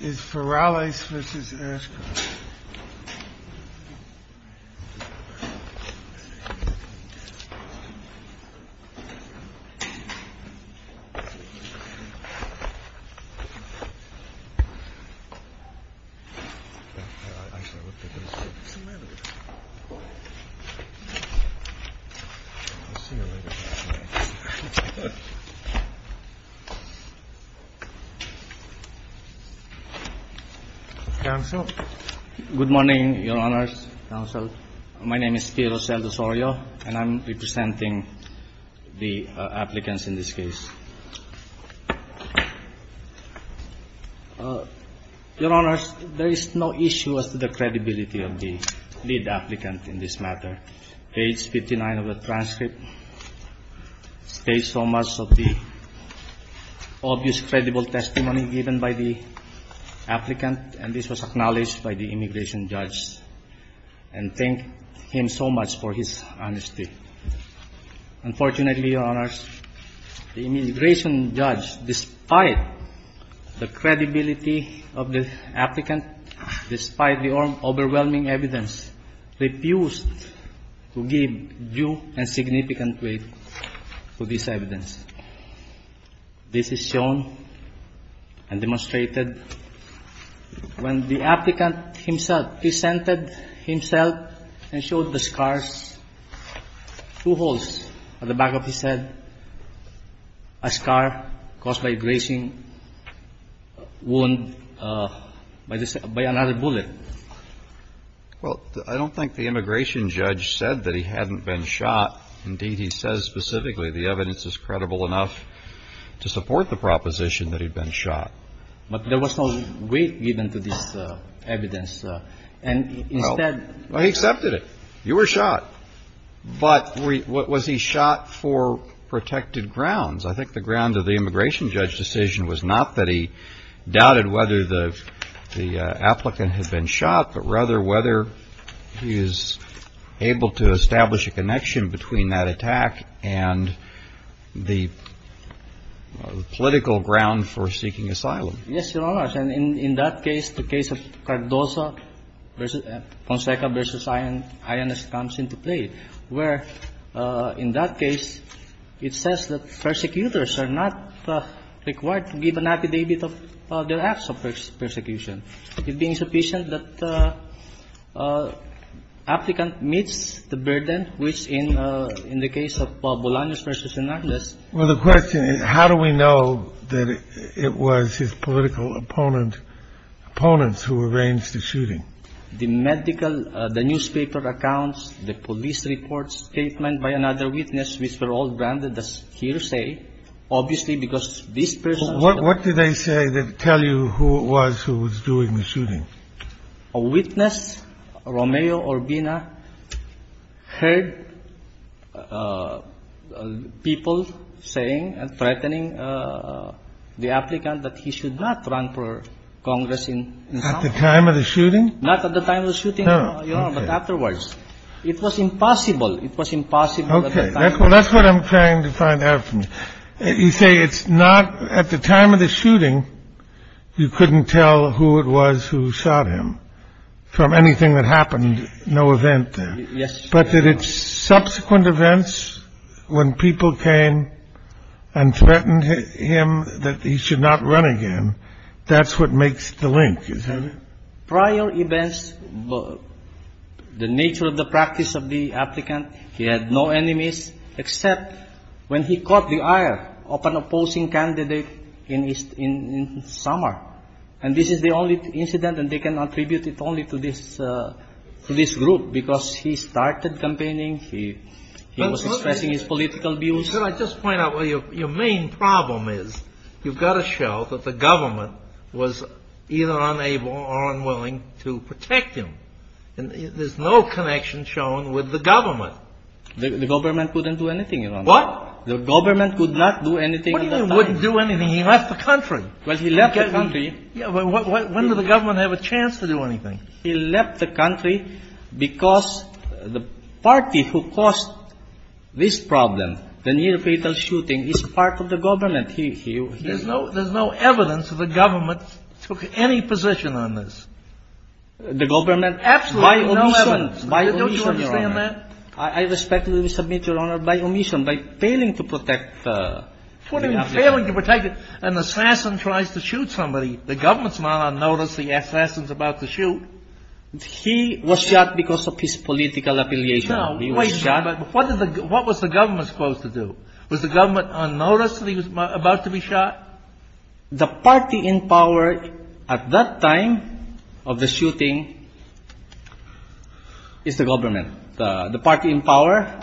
FARRALES v. ASHCROFT Good morning, Your Honors. My name is Piero Saldosorio, and I'm representing the applicants in this case. Your Honors, there is no issue as to the credibility of the lead applicant in this matter. Page 59 of the transcript states so much of the obvious credible testimony given by the applicant, and this was acknowledged by the immigration judge, and thank him so much for his honesty. Unfortunately, Your Honors, the immigration judge, despite the credibility of the applicant, despite the overwhelming evidence, refused to give due and significant weight to this evidence. This is shown and demonstrated when the applicant himself presented himself and showed the scars, two holes at the back of his head, a scar caused by abrasion, wound by another bullet. Well, I don't think the immigration judge said that he hadn't been shot. Indeed, he says specifically the evidence is credible enough to support the proposition that he'd been shot. But there was no weight given to this evidence. Well, he accepted it. You were shot. But was he shot for protected grounds? I think the grounds of the immigration judge's decision was not that he doubted whether the applicant had been shot, but rather whether he was able to establish a connection between that attack and the political ground for seeking asylum. Yes, Your Honors. And in that case, the case of Cardozo v. Conceca v. Ayanez comes into play, where in that case it says that persecutors are not required to give an affidavit of their acts of persecution. It being sufficient that the applicant meets the burden, which in the case of Bolaños v. Hernandez. Well, the question is, how do we know that it was his political opponents who arranged the shooting? The medical, the newspaper accounts, the police reports, statements by another witness, which were all branded as hearsay, obviously because this person. What did they say that tell you who it was who was doing the shooting? A witness, Romeo Urbina, heard people saying and threatening the applicant that he should not run for Congress in South Africa. At the time of the shooting? Not at the time of the shooting, Your Honor, but afterwards. It was impossible. It was impossible at the time. Okay. Well, that's what I'm trying to find out from you. You say it's not at the time of the shooting. You couldn't tell who it was who shot him from anything that happened. No event there. Yes. But that it's subsequent events when people came and threatened him that he should not run again. That's what makes the link. Is that it? Prior events, the nature of the practice of the applicant. He had no enemies except when he caught the eye of an opposing candidate in summer. And this is the only incident, and they can attribute it only to this group because he started campaigning. He was expressing his political views. Could I just point out, well, your main problem is you've got to show that the government was either unable or unwilling to protect him. There's no connection shown with the government. The government couldn't do anything, Your Honor. What? The government could not do anything at the time. What do you mean wouldn't do anything? He left the country. Well, he left the country. When did the government have a chance to do anything? He left the country because the party who caused this problem, the near-fatal shooting, is part of the government. There's no evidence that the government took any position on this. The government? Absolutely. No evidence. By omission, Your Honor. Don't you understand that? I respectfully submit, Your Honor, by omission, by failing to protect the applicant. What do you mean failing to protect him? An assassin tries to shoot somebody. The government is not unnoticed. The assassin is about to shoot. He was shot because of his political affiliation. No, wait. What was the government supposed to do? Was the government unnoticed that he was about to be shot? The party in power at that time of the shooting is the government. The party in power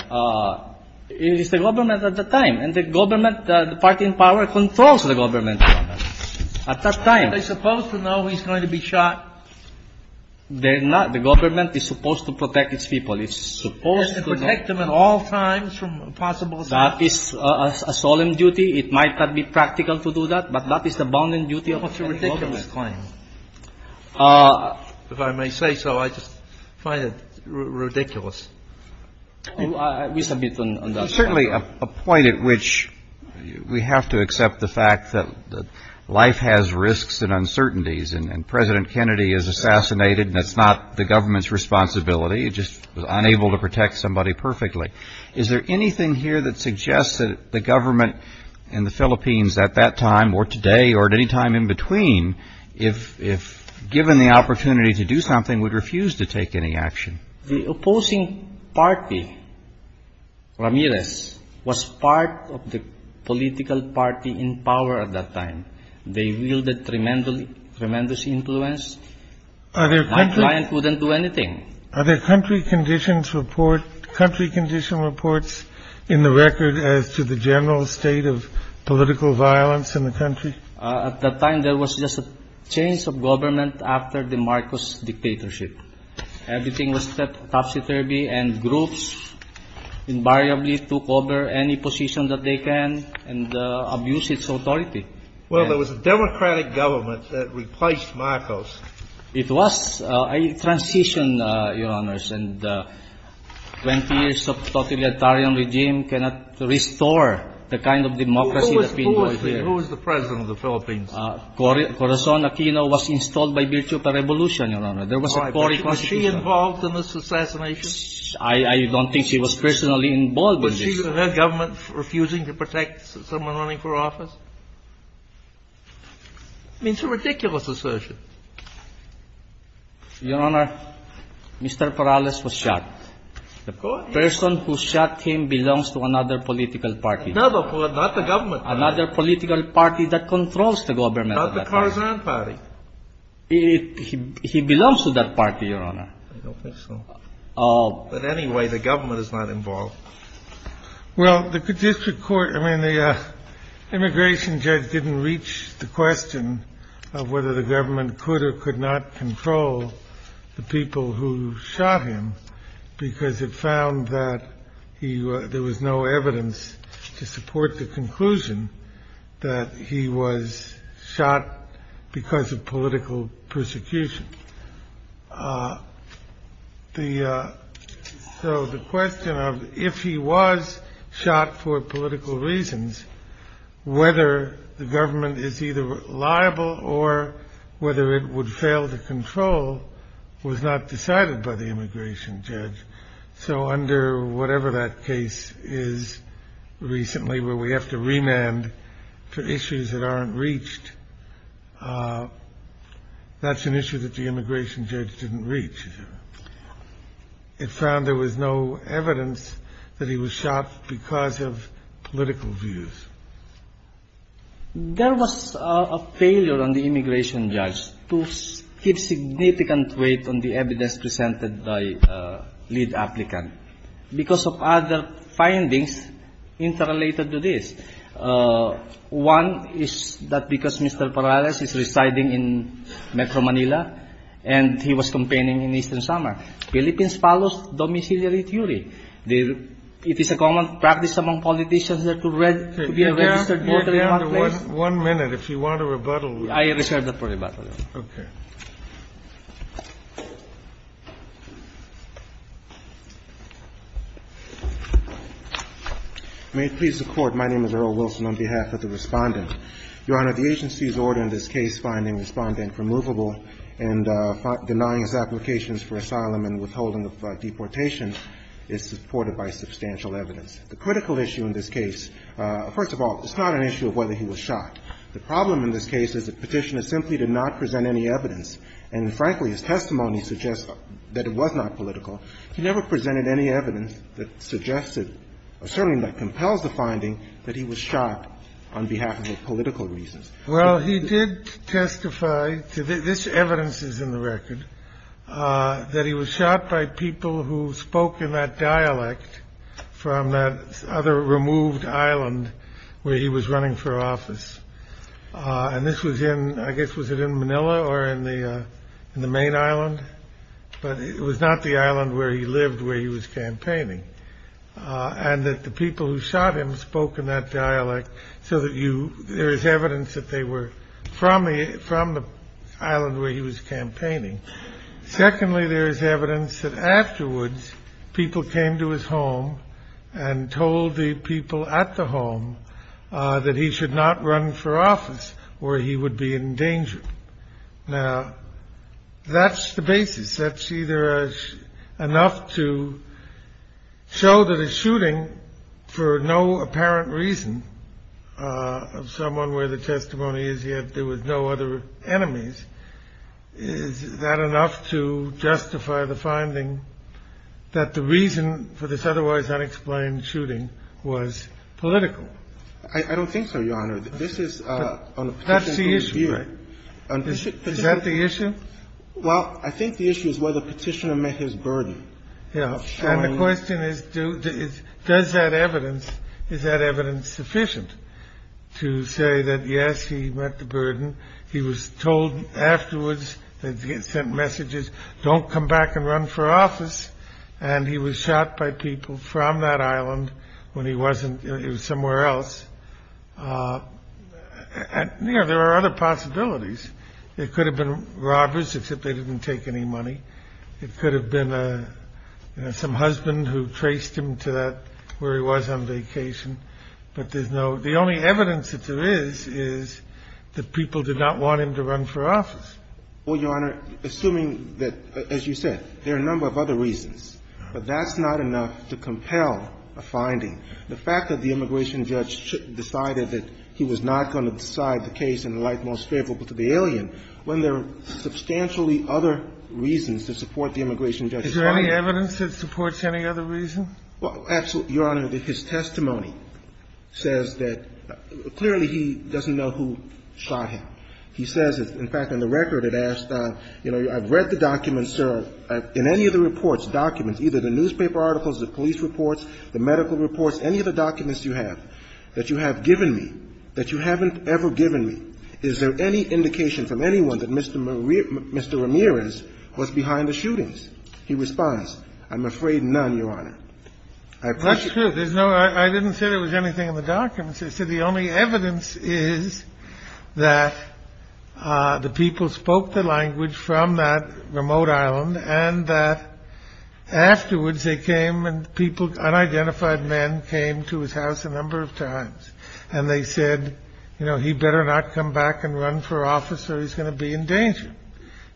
is the government at the time. And the government, the party in power controls the government at that time. Are they supposed to know he's going to be shot? They're not. The government is supposed to protect its people. It's supposed to know. It's supposed to protect them at all times from a possible shot? That is a solemn duty. It might not be practical to do that, but that is the bounding duty of a federal government. That's a ridiculous claim. If I may say so, I just find it ridiculous. We submit on that. There's certainly a point at which we have to accept the fact that life has risks and uncertainties, and President Kennedy is assassinated, and it's not the government's responsibility. It's just unable to protect somebody perfectly. Is there anything here that suggests that the government in the Philippines at that time or today or at any time in between, if given the opportunity to do something, would refuse to take any action? The opposing party, Ramirez, was part of the political party in power at that time. They wielded tremendous influence. My client wouldn't do anything. Are there country condition reports in the record as to the general state of political violence in the country? At that time, there was just a change of government after the Marcos dictatorship. Everything was topsy-turvy, and groups invariably took over any position that they can and abused its authority. Well, there was a democratic government that replaced Marcos. It was a transition, Your Honors. And 20 years of totalitarian regime cannot restore the kind of democracy that we enjoy here. Who was the president of the Philippines? Corazon Aquino was installed by Virtual Revolution, Your Honor. There was a Corazon Aquino. Was she involved in this assassination? I don't think she was personally involved in this. Was her government refusing to protect someone running for office? I mean, it's a ridiculous assertion. Your Honor, Mr. Perales was shot. The person who shot him belongs to another political party. No, but not the government. Another political party that controls the government. Not the Corazon party. He belongs to that party, Your Honor. I don't think so. But anyway, the government is not involved. Well, the district court, I mean, the immigration judge didn't reach the question of whether the government could or could not control the people who shot him because it found that there was no evidence to support the conclusion that he was shot because of political persecution. So the question of if he was shot for political reasons, whether the government is either liable or whether it would fail to control was not decided by the immigration judge. So under whatever that case is recently where we have to remand for issues that aren't reached, that's an issue that the immigration judge didn't reach, Your Honor. It found there was no evidence that he was shot because of political views. There was a failure on the immigration judge to give significant weight on the evidence presented by the lead applicant because of other findings interrelated to this. One is that because Mr. Perales is residing in Metro Manila and he was campaigning in Eastern Samar. Philippines follows domiciliary theory. It is a common practice among politicians to be a registered voter in that place. Your Honor, one minute. If you want to rebuttal. I reserve that for rebuttal. Okay. May it please the Court. My name is Earl Wilson on behalf of the Respondent. Your Honor, the agency's order in this case finding Respondent removable and denying his applications for asylum and withholding of deportation is supported by substantial evidence. The critical issue in this case, first of all, it's not an issue of whether he was shot. The problem in this case is that Petitioner simply did not present any evidence. And, frankly, his testimony suggests that it was not political. He never presented any evidence that suggests it or certainly not compels the finding that he was shot on behalf of political reasons. Well, he did testify to this evidence is in the record that he was shot by people who spoke in that dialect from that other removed island where he was running for office. And this was in I guess was it in Manila or in the in the main island. But it was not the island where he lived, where he was campaigning and that the people who shot him spoke in that dialect. So that you there is evidence that they were from from the island where he was campaigning. Secondly, there is evidence that afterwards people came to his home and told the people at the home that he should not run for office or he would be in danger. Now, that's the basis. That's either enough to show that a shooting for no apparent reason of someone where the testimony is yet there was no other enemies. Is that enough to justify the finding that the reason for this otherwise unexplained shooting was political? I don't think so, Your Honor. This is the issue. Is that the issue? Well, I think the issue is whether Petitioner met his burden. Yeah. And the question is, does that evidence is that evidence sufficient to say that, yes, he met the burden. He was told afterwards that he had sent messages. Don't come back and run for office. And he was shot by people from that island when he wasn't. It was somewhere else. And there are other possibilities. It could have been robbers, except they didn't take any money. It could have been some husband who traced him to where he was on vacation. But there's no the only evidence that there is is that people did not want him to run for office. Well, Your Honor, assuming that, as you said, there are a number of other reasons. But that's not enough to compel a finding. The fact that the immigration judge decided that he was not going to decide the case in the light most favorable to the alien, when there are substantially other reasons to support the immigration judge's finding. Is there any evidence that supports any other reason? Well, Your Honor, his testimony says that clearly he doesn't know who shot him. He says, in fact, in the record it asks, you know, I've read the documents, sir. In any of the reports, documents, either the newspaper articles, the police reports, the medical reports, any of the documents you have, that you have given me, that you haven't ever given me, is there any indication from anyone that Mr. Ramirez was behind the shootings? He responds, I'm afraid none, Your Honor. That's true. So the only evidence is that the people spoke the language from that remote island and that afterwards they came and people, unidentified men, came to his house a number of times. And they said, you know, he better not come back and run for office or he's going to be in danger.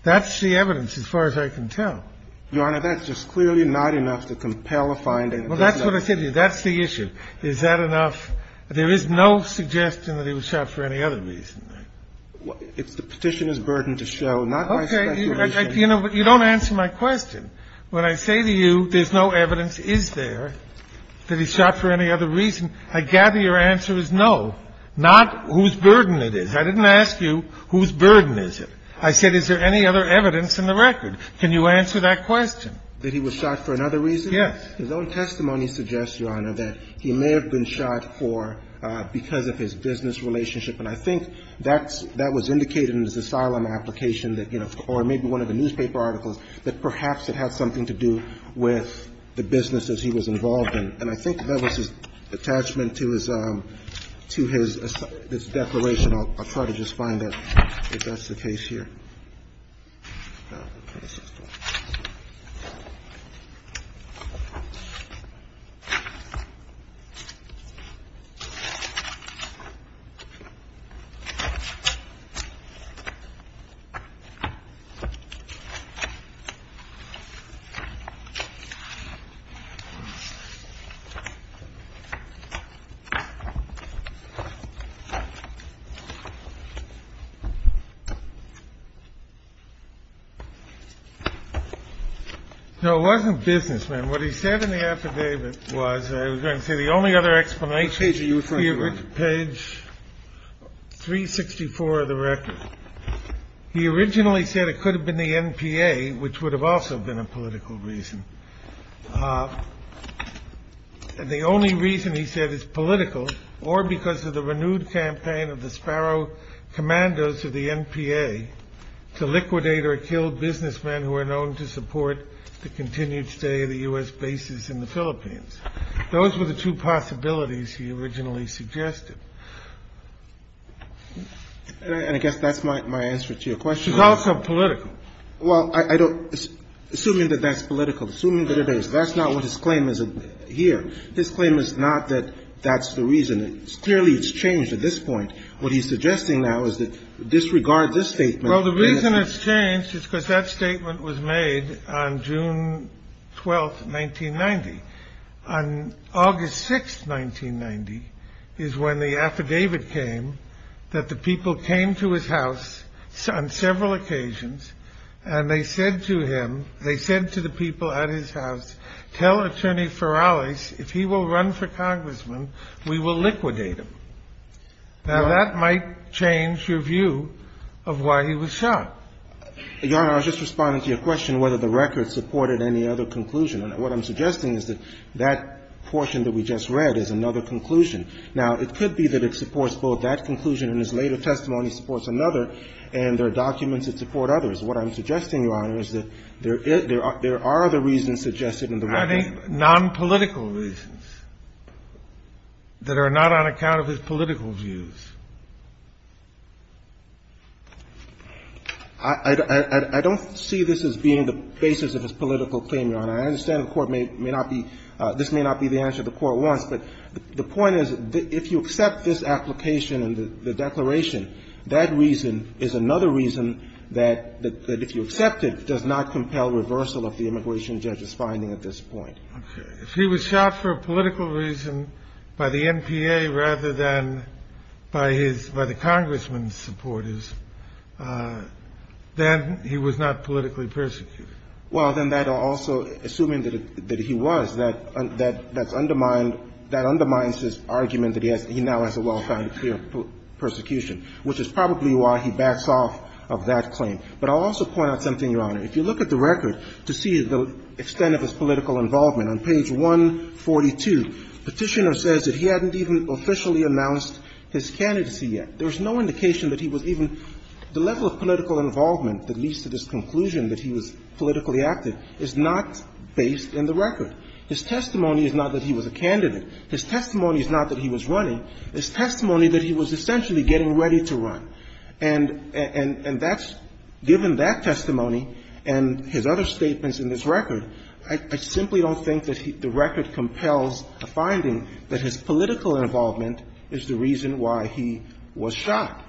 That's the evidence as far as I can tell. Your Honor, that's just clearly not enough to compel a finding. Well, that's what I said to you. That's the issue. Is that enough? There is no suggestion that he was shot for any other reason. It's the Petitioner's burden to show, not my speculation. Okay. You don't answer my question. When I say to you there's no evidence, is there, that he's shot for any other reason, I gather your answer is no, not whose burden it is. I didn't ask you whose burden is it. I said, is there any other evidence in the record? Can you answer that question? That he was shot for another reason? Yes. His own testimony suggests, Your Honor, that he may have been shot for because of his business relationship. And I think that's – that was indicated in his asylum application that, you know, or maybe one of the newspaper articles, that perhaps it had something to do with the businesses he was involved in. And I think that was his attachment to his – to his declaration. I'll try to just find out if that's the case here. Thank you. No, it wasn't business, ma'am. What he said in the affidavit was – I was going to say, the only other explanation – which page are you referring to, Your Honor? Page 364 of the record. He originally said it could have been the NPA, which would have also been a political reason. The only reason he said it's political, or because of the renewed campaign of the NPA to liquidate or kill businessmen who are known to support the continued stay of the U.S. bases in the Philippines. Those were the two possibilities he originally suggested. And I guess that's my answer to your question. It's also political. Well, I don't – assuming that that's political, assuming that it is, that's not what his claim is here. His claim is not that that's the reason. Clearly, it's changed at this point. What he's suggesting now is that – disregard this statement. Well, the reason it's changed is because that statement was made on June 12, 1990. On August 6, 1990, is when the affidavit came that the people came to his house on several occasions, and they said to him – they said to the people at his house, tell Attorney Ferales if he will run for congressman, we will liquidate him. Now, that might change your view of why he was shot. Your Honor, I was just responding to your question whether the record supported any other conclusion. What I'm suggesting is that that portion that we just read is another conclusion. Now, it could be that it supports both that conclusion and his later testimony supports another, and there are documents that support others. What I'm suggesting, Your Honor, is that there are other reasons suggested in the record. I think nonpolitical reasons that are not on account of his political views. I don't see this as being the basis of his political claim, Your Honor. I understand the Court may not be – this may not be the answer the Court wants, but the point is, if you accept this application and the declaration, that reason is another reason that, if you accept it, does not compel reversal of the immigration judge's finding at this point. Okay. If he was shot for a political reason by the NPA rather than by his – by the congressman's supporters, then he was not politically persecuted. Well, then that also, assuming that he was, that undermines his argument that he now has a well-founded fear of persecution, which is probably why he backs off of that claim. But I'll also point out something, Your Honor. If you look at the record to see the extent of his political involvement, on page 142, Petitioner says that he hadn't even officially announced his candidacy yet. There was no indication that he was even – the level of political involvement that leads to this conclusion that he was politically active is not based in the record. His testimony is not that he was a candidate. His testimony is not that he was running. His testimony is that he was essentially getting ready to run. And that's – given that testimony and his other statements in this record, I simply don't think that he – the record compels the finding that his political involvement is the reason why he was shot.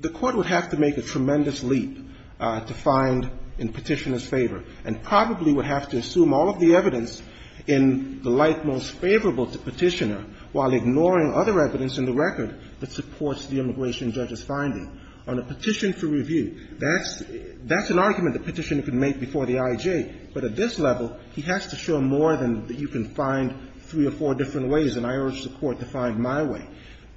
The Court would have to make a tremendous leap to find in Petitioner's favor and probably would have to assume all of the evidence in the light most favorable to Petitioner while ignoring other evidence in the record that supports the immigration judge's finding. On a petition for review, that's – that's an argument that Petitioner could make before the IJ. But at this level, he has to show more than you can find three or four different ways, and I urge the Court to find my way.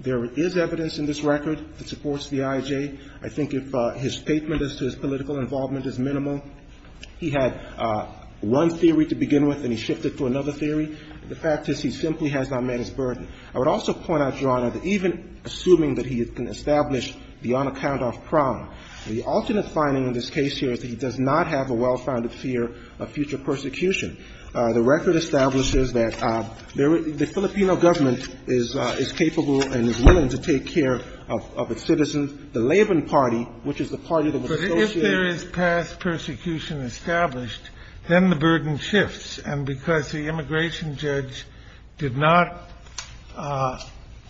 There is evidence in this record that supports the IJ. I think if his statement as to his political involvement is minimal. He had one theory to begin with and he shifted to another theory. The fact is he simply has not met his burden. I would also point out, Your Honor, that even assuming that he can establish the unaccounted-off problem, the alternate finding in this case here is that he does not have a well-founded fear of future persecution. The record establishes that there – the Filipino government is capable and is willing to take care of its citizens. The Laban party, which is the party that was associated – then the burden shifts. And because the immigration judge did not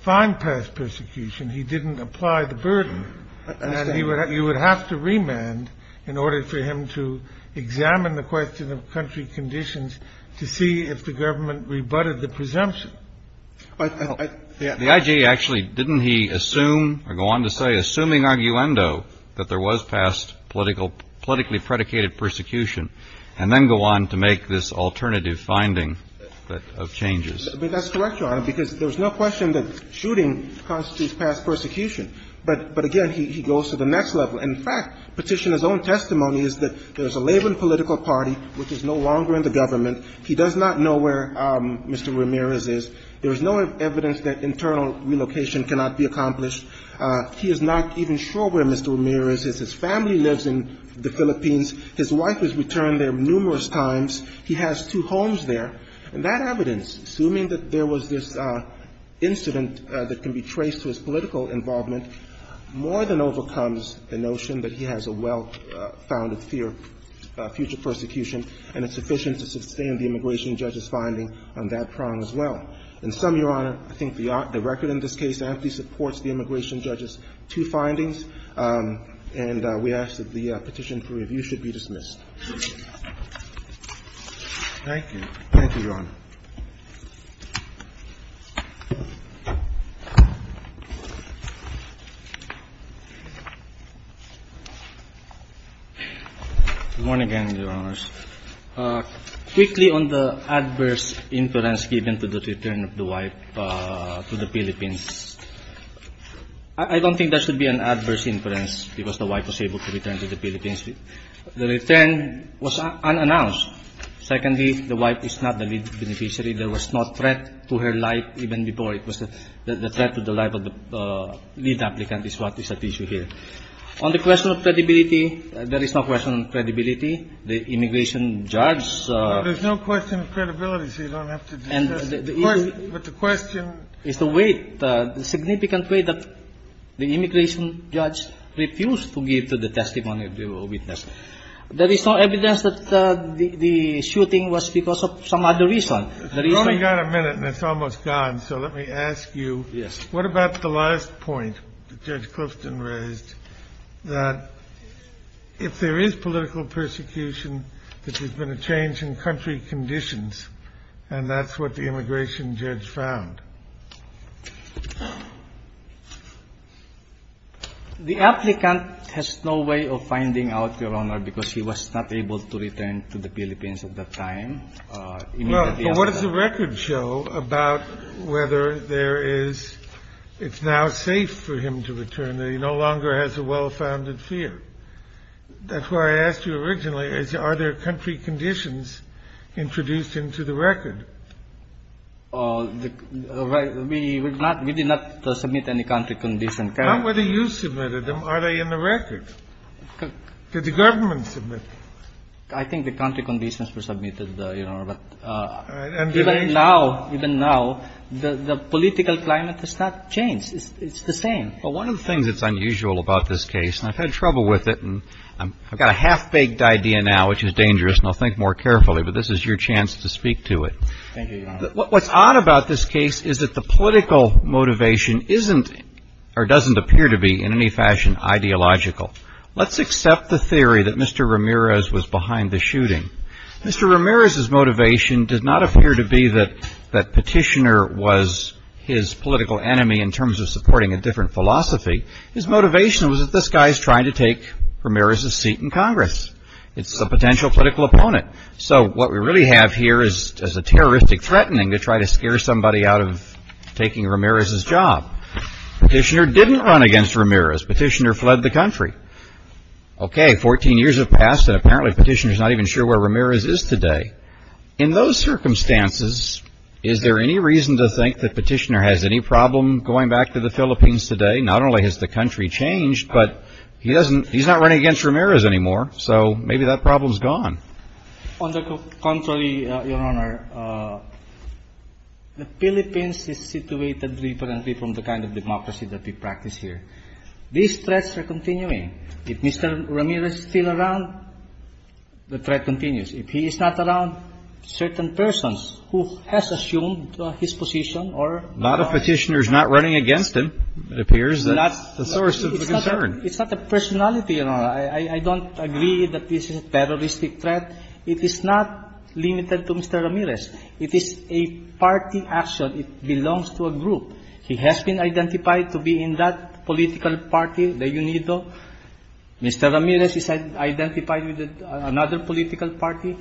find past persecution, he didn't apply the burden. And he would – you would have to remand in order for him to examine the question of country conditions to see if the government rebutted the presumption. The IJ actually – didn't he assume or go on to say, assuming arguendo, that there was past politically predicated persecution, and then go on to make this alternative finding of changes? That's correct, Your Honor, because there's no question that shooting constitutes past persecution. But again, he goes to the next level. In fact, Petitioner's own testimony is that there's a Laban political party which is no longer in the government. He does not know where Mr. Ramirez is. There is no evidence that internal relocation cannot be accomplished. He is not even sure where Mr. Ramirez is. His family lives in the Philippines. His wife has returned there numerous times. He has two homes there. And that evidence, assuming that there was this incident that can be traced to his political involvement, more than overcomes the notion that he has a well-founded fear of future persecution, and it's sufficient to sustain the immigration judge's finding on that prong as well. In sum, Your Honor, I think the record in this case amply supports the immigration judge's two findings. And we ask that the petition for review should be dismissed. Thank you. Thank you, Your Honor. Good morning again, Your Honors. Quickly on the adverse inference given to the return of the wife to the Philippines. I don't think there should be an adverse inference because the wife was able to return to the Philippines. The return was unannounced. Secondly, the wife is not the lead beneficiary. There was no threat to her life even before. It was the threat to the life of the lead applicant is what is at issue here. On the question of credibility, there is no question of credibility. The immigration judge's ---- There's no question of credibility, so you don't have to discuss it. But the question ---- It's the weight, the significant weight that the immigration judge refused to give to the testimony of the witness. There is no evidence that the shooting was because of some other reason. There is no ---- We've only got a minute, and it's almost gone, so let me ask you. Yes. What about the last point that Judge Clifton raised, that if there is political persecution, that there's been a change in country conditions, and that's what the immigration judge found? The applicant has no way of finding out, Your Honor, because he was not able to return to the Philippines at that time. Well, but what does the record show about whether there is ---- it's now safe for him to return. He no longer has a well-founded fear. That's why I asked you originally, are there country conditions introduced into the record? We did not submit any country conditions. Not whether you submitted them. Are they in the record? Did the government submit them? I think the country conditions were submitted, Your Honor, but even now, even now, the political climate has not changed. It's the same. Well, one of the things that's unusual about this case, and I've had trouble with it, and I've got a half-baked idea now which is dangerous, and I'll think more carefully, but this is your chance to speak to it. Thank you, Your Honor. What's odd about this case is that the political motivation isn't or doesn't appear to be in any fashion ideological. Let's accept the theory that Mr. Ramirez was behind the shooting. Mr. Ramirez's motivation did not appear to be that Petitioner was his political enemy in terms of supporting a different philosophy. His motivation was that this guy is trying to take Ramirez's seat in Congress. It's a potential political opponent. So, what we really have here is a terroristic threatening to try to scare somebody out of taking Ramirez's job. Petitioner didn't run against Ramirez. Petitioner fled the country. Okay, 14 years have passed, and apparently Petitioner's not even sure where Ramirez is today. In those circumstances, is there any reason to think that Petitioner has any problem going back to the Philippines today? Not only has the country changed, but he's not running against Ramirez anymore, so maybe that problem's gone. On the contrary, Your Honor, the Philippines is situated differently from the kind of democracy that we practice here. These threats are continuing. If Mr. Ramirez is still around, the threat continues. If he is not around, certain persons who has assumed his position or not. Not if Petitioner's not running against him, it appears, that's the source of the concern. It's not the personality, Your Honor. I don't agree that this is a terroristic threat. It is not limited to Mr. Ramirez. It is a party action. It belongs to a group. He has been identified to be in that political party, the UNIDO. Mr. Ramirez is identified with another political party.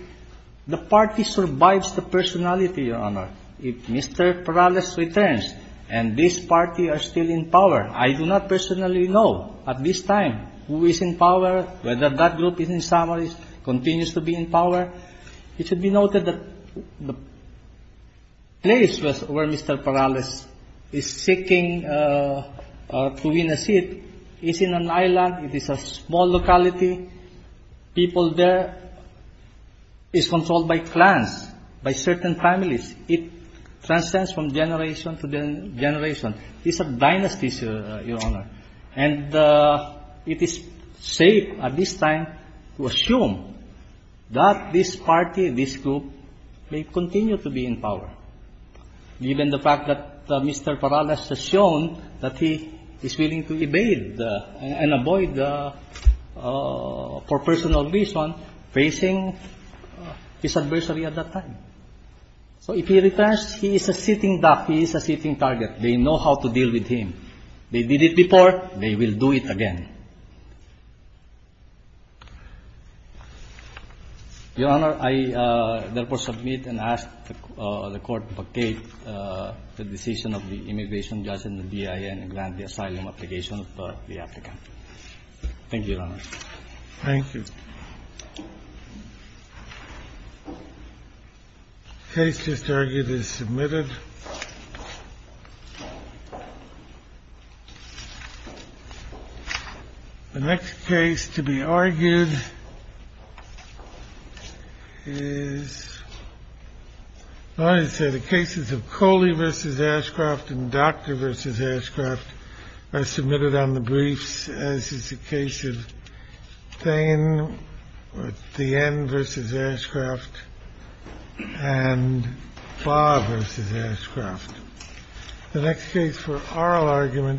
The party survives the personality, Your Honor. If Mr. Perales returns and this party are still in power, I do not personally know at this time who is in power, whether that group is in summary, continues to be in power. It should be noted that the place where Mr. Perales is seeking to win a seat is in an island. It is a small locality. People there is controlled by clans, by certain families. It transcends from generation to generation. It's a dynasty, Your Honor. And it is safe at this time to assume that this party, this group, may continue to be in power, given the fact that Mr. Perales has shown that he is willing to evade and avoid, for personal reason, facing his adversary at that time. So if he returns, he is a sitting duck. He is a sitting target. They know how to deal with him. They did it before. They will do it again. Your Honor, I therefore submit and ask the Court to dictate the decision of the immigration judge and the BIN and grant the asylum application of the applicant. Thank you, Your Honor. Thank you. The case is submitted. The next case to be argued is, as I said, the cases of Coley v. Ashcroft and Dr. v. Ashcroft are submitted on the briefs, as is the case of Thain, Thien v. Ashcroft, and Thien v. Ashcroft. The next case for oral argument.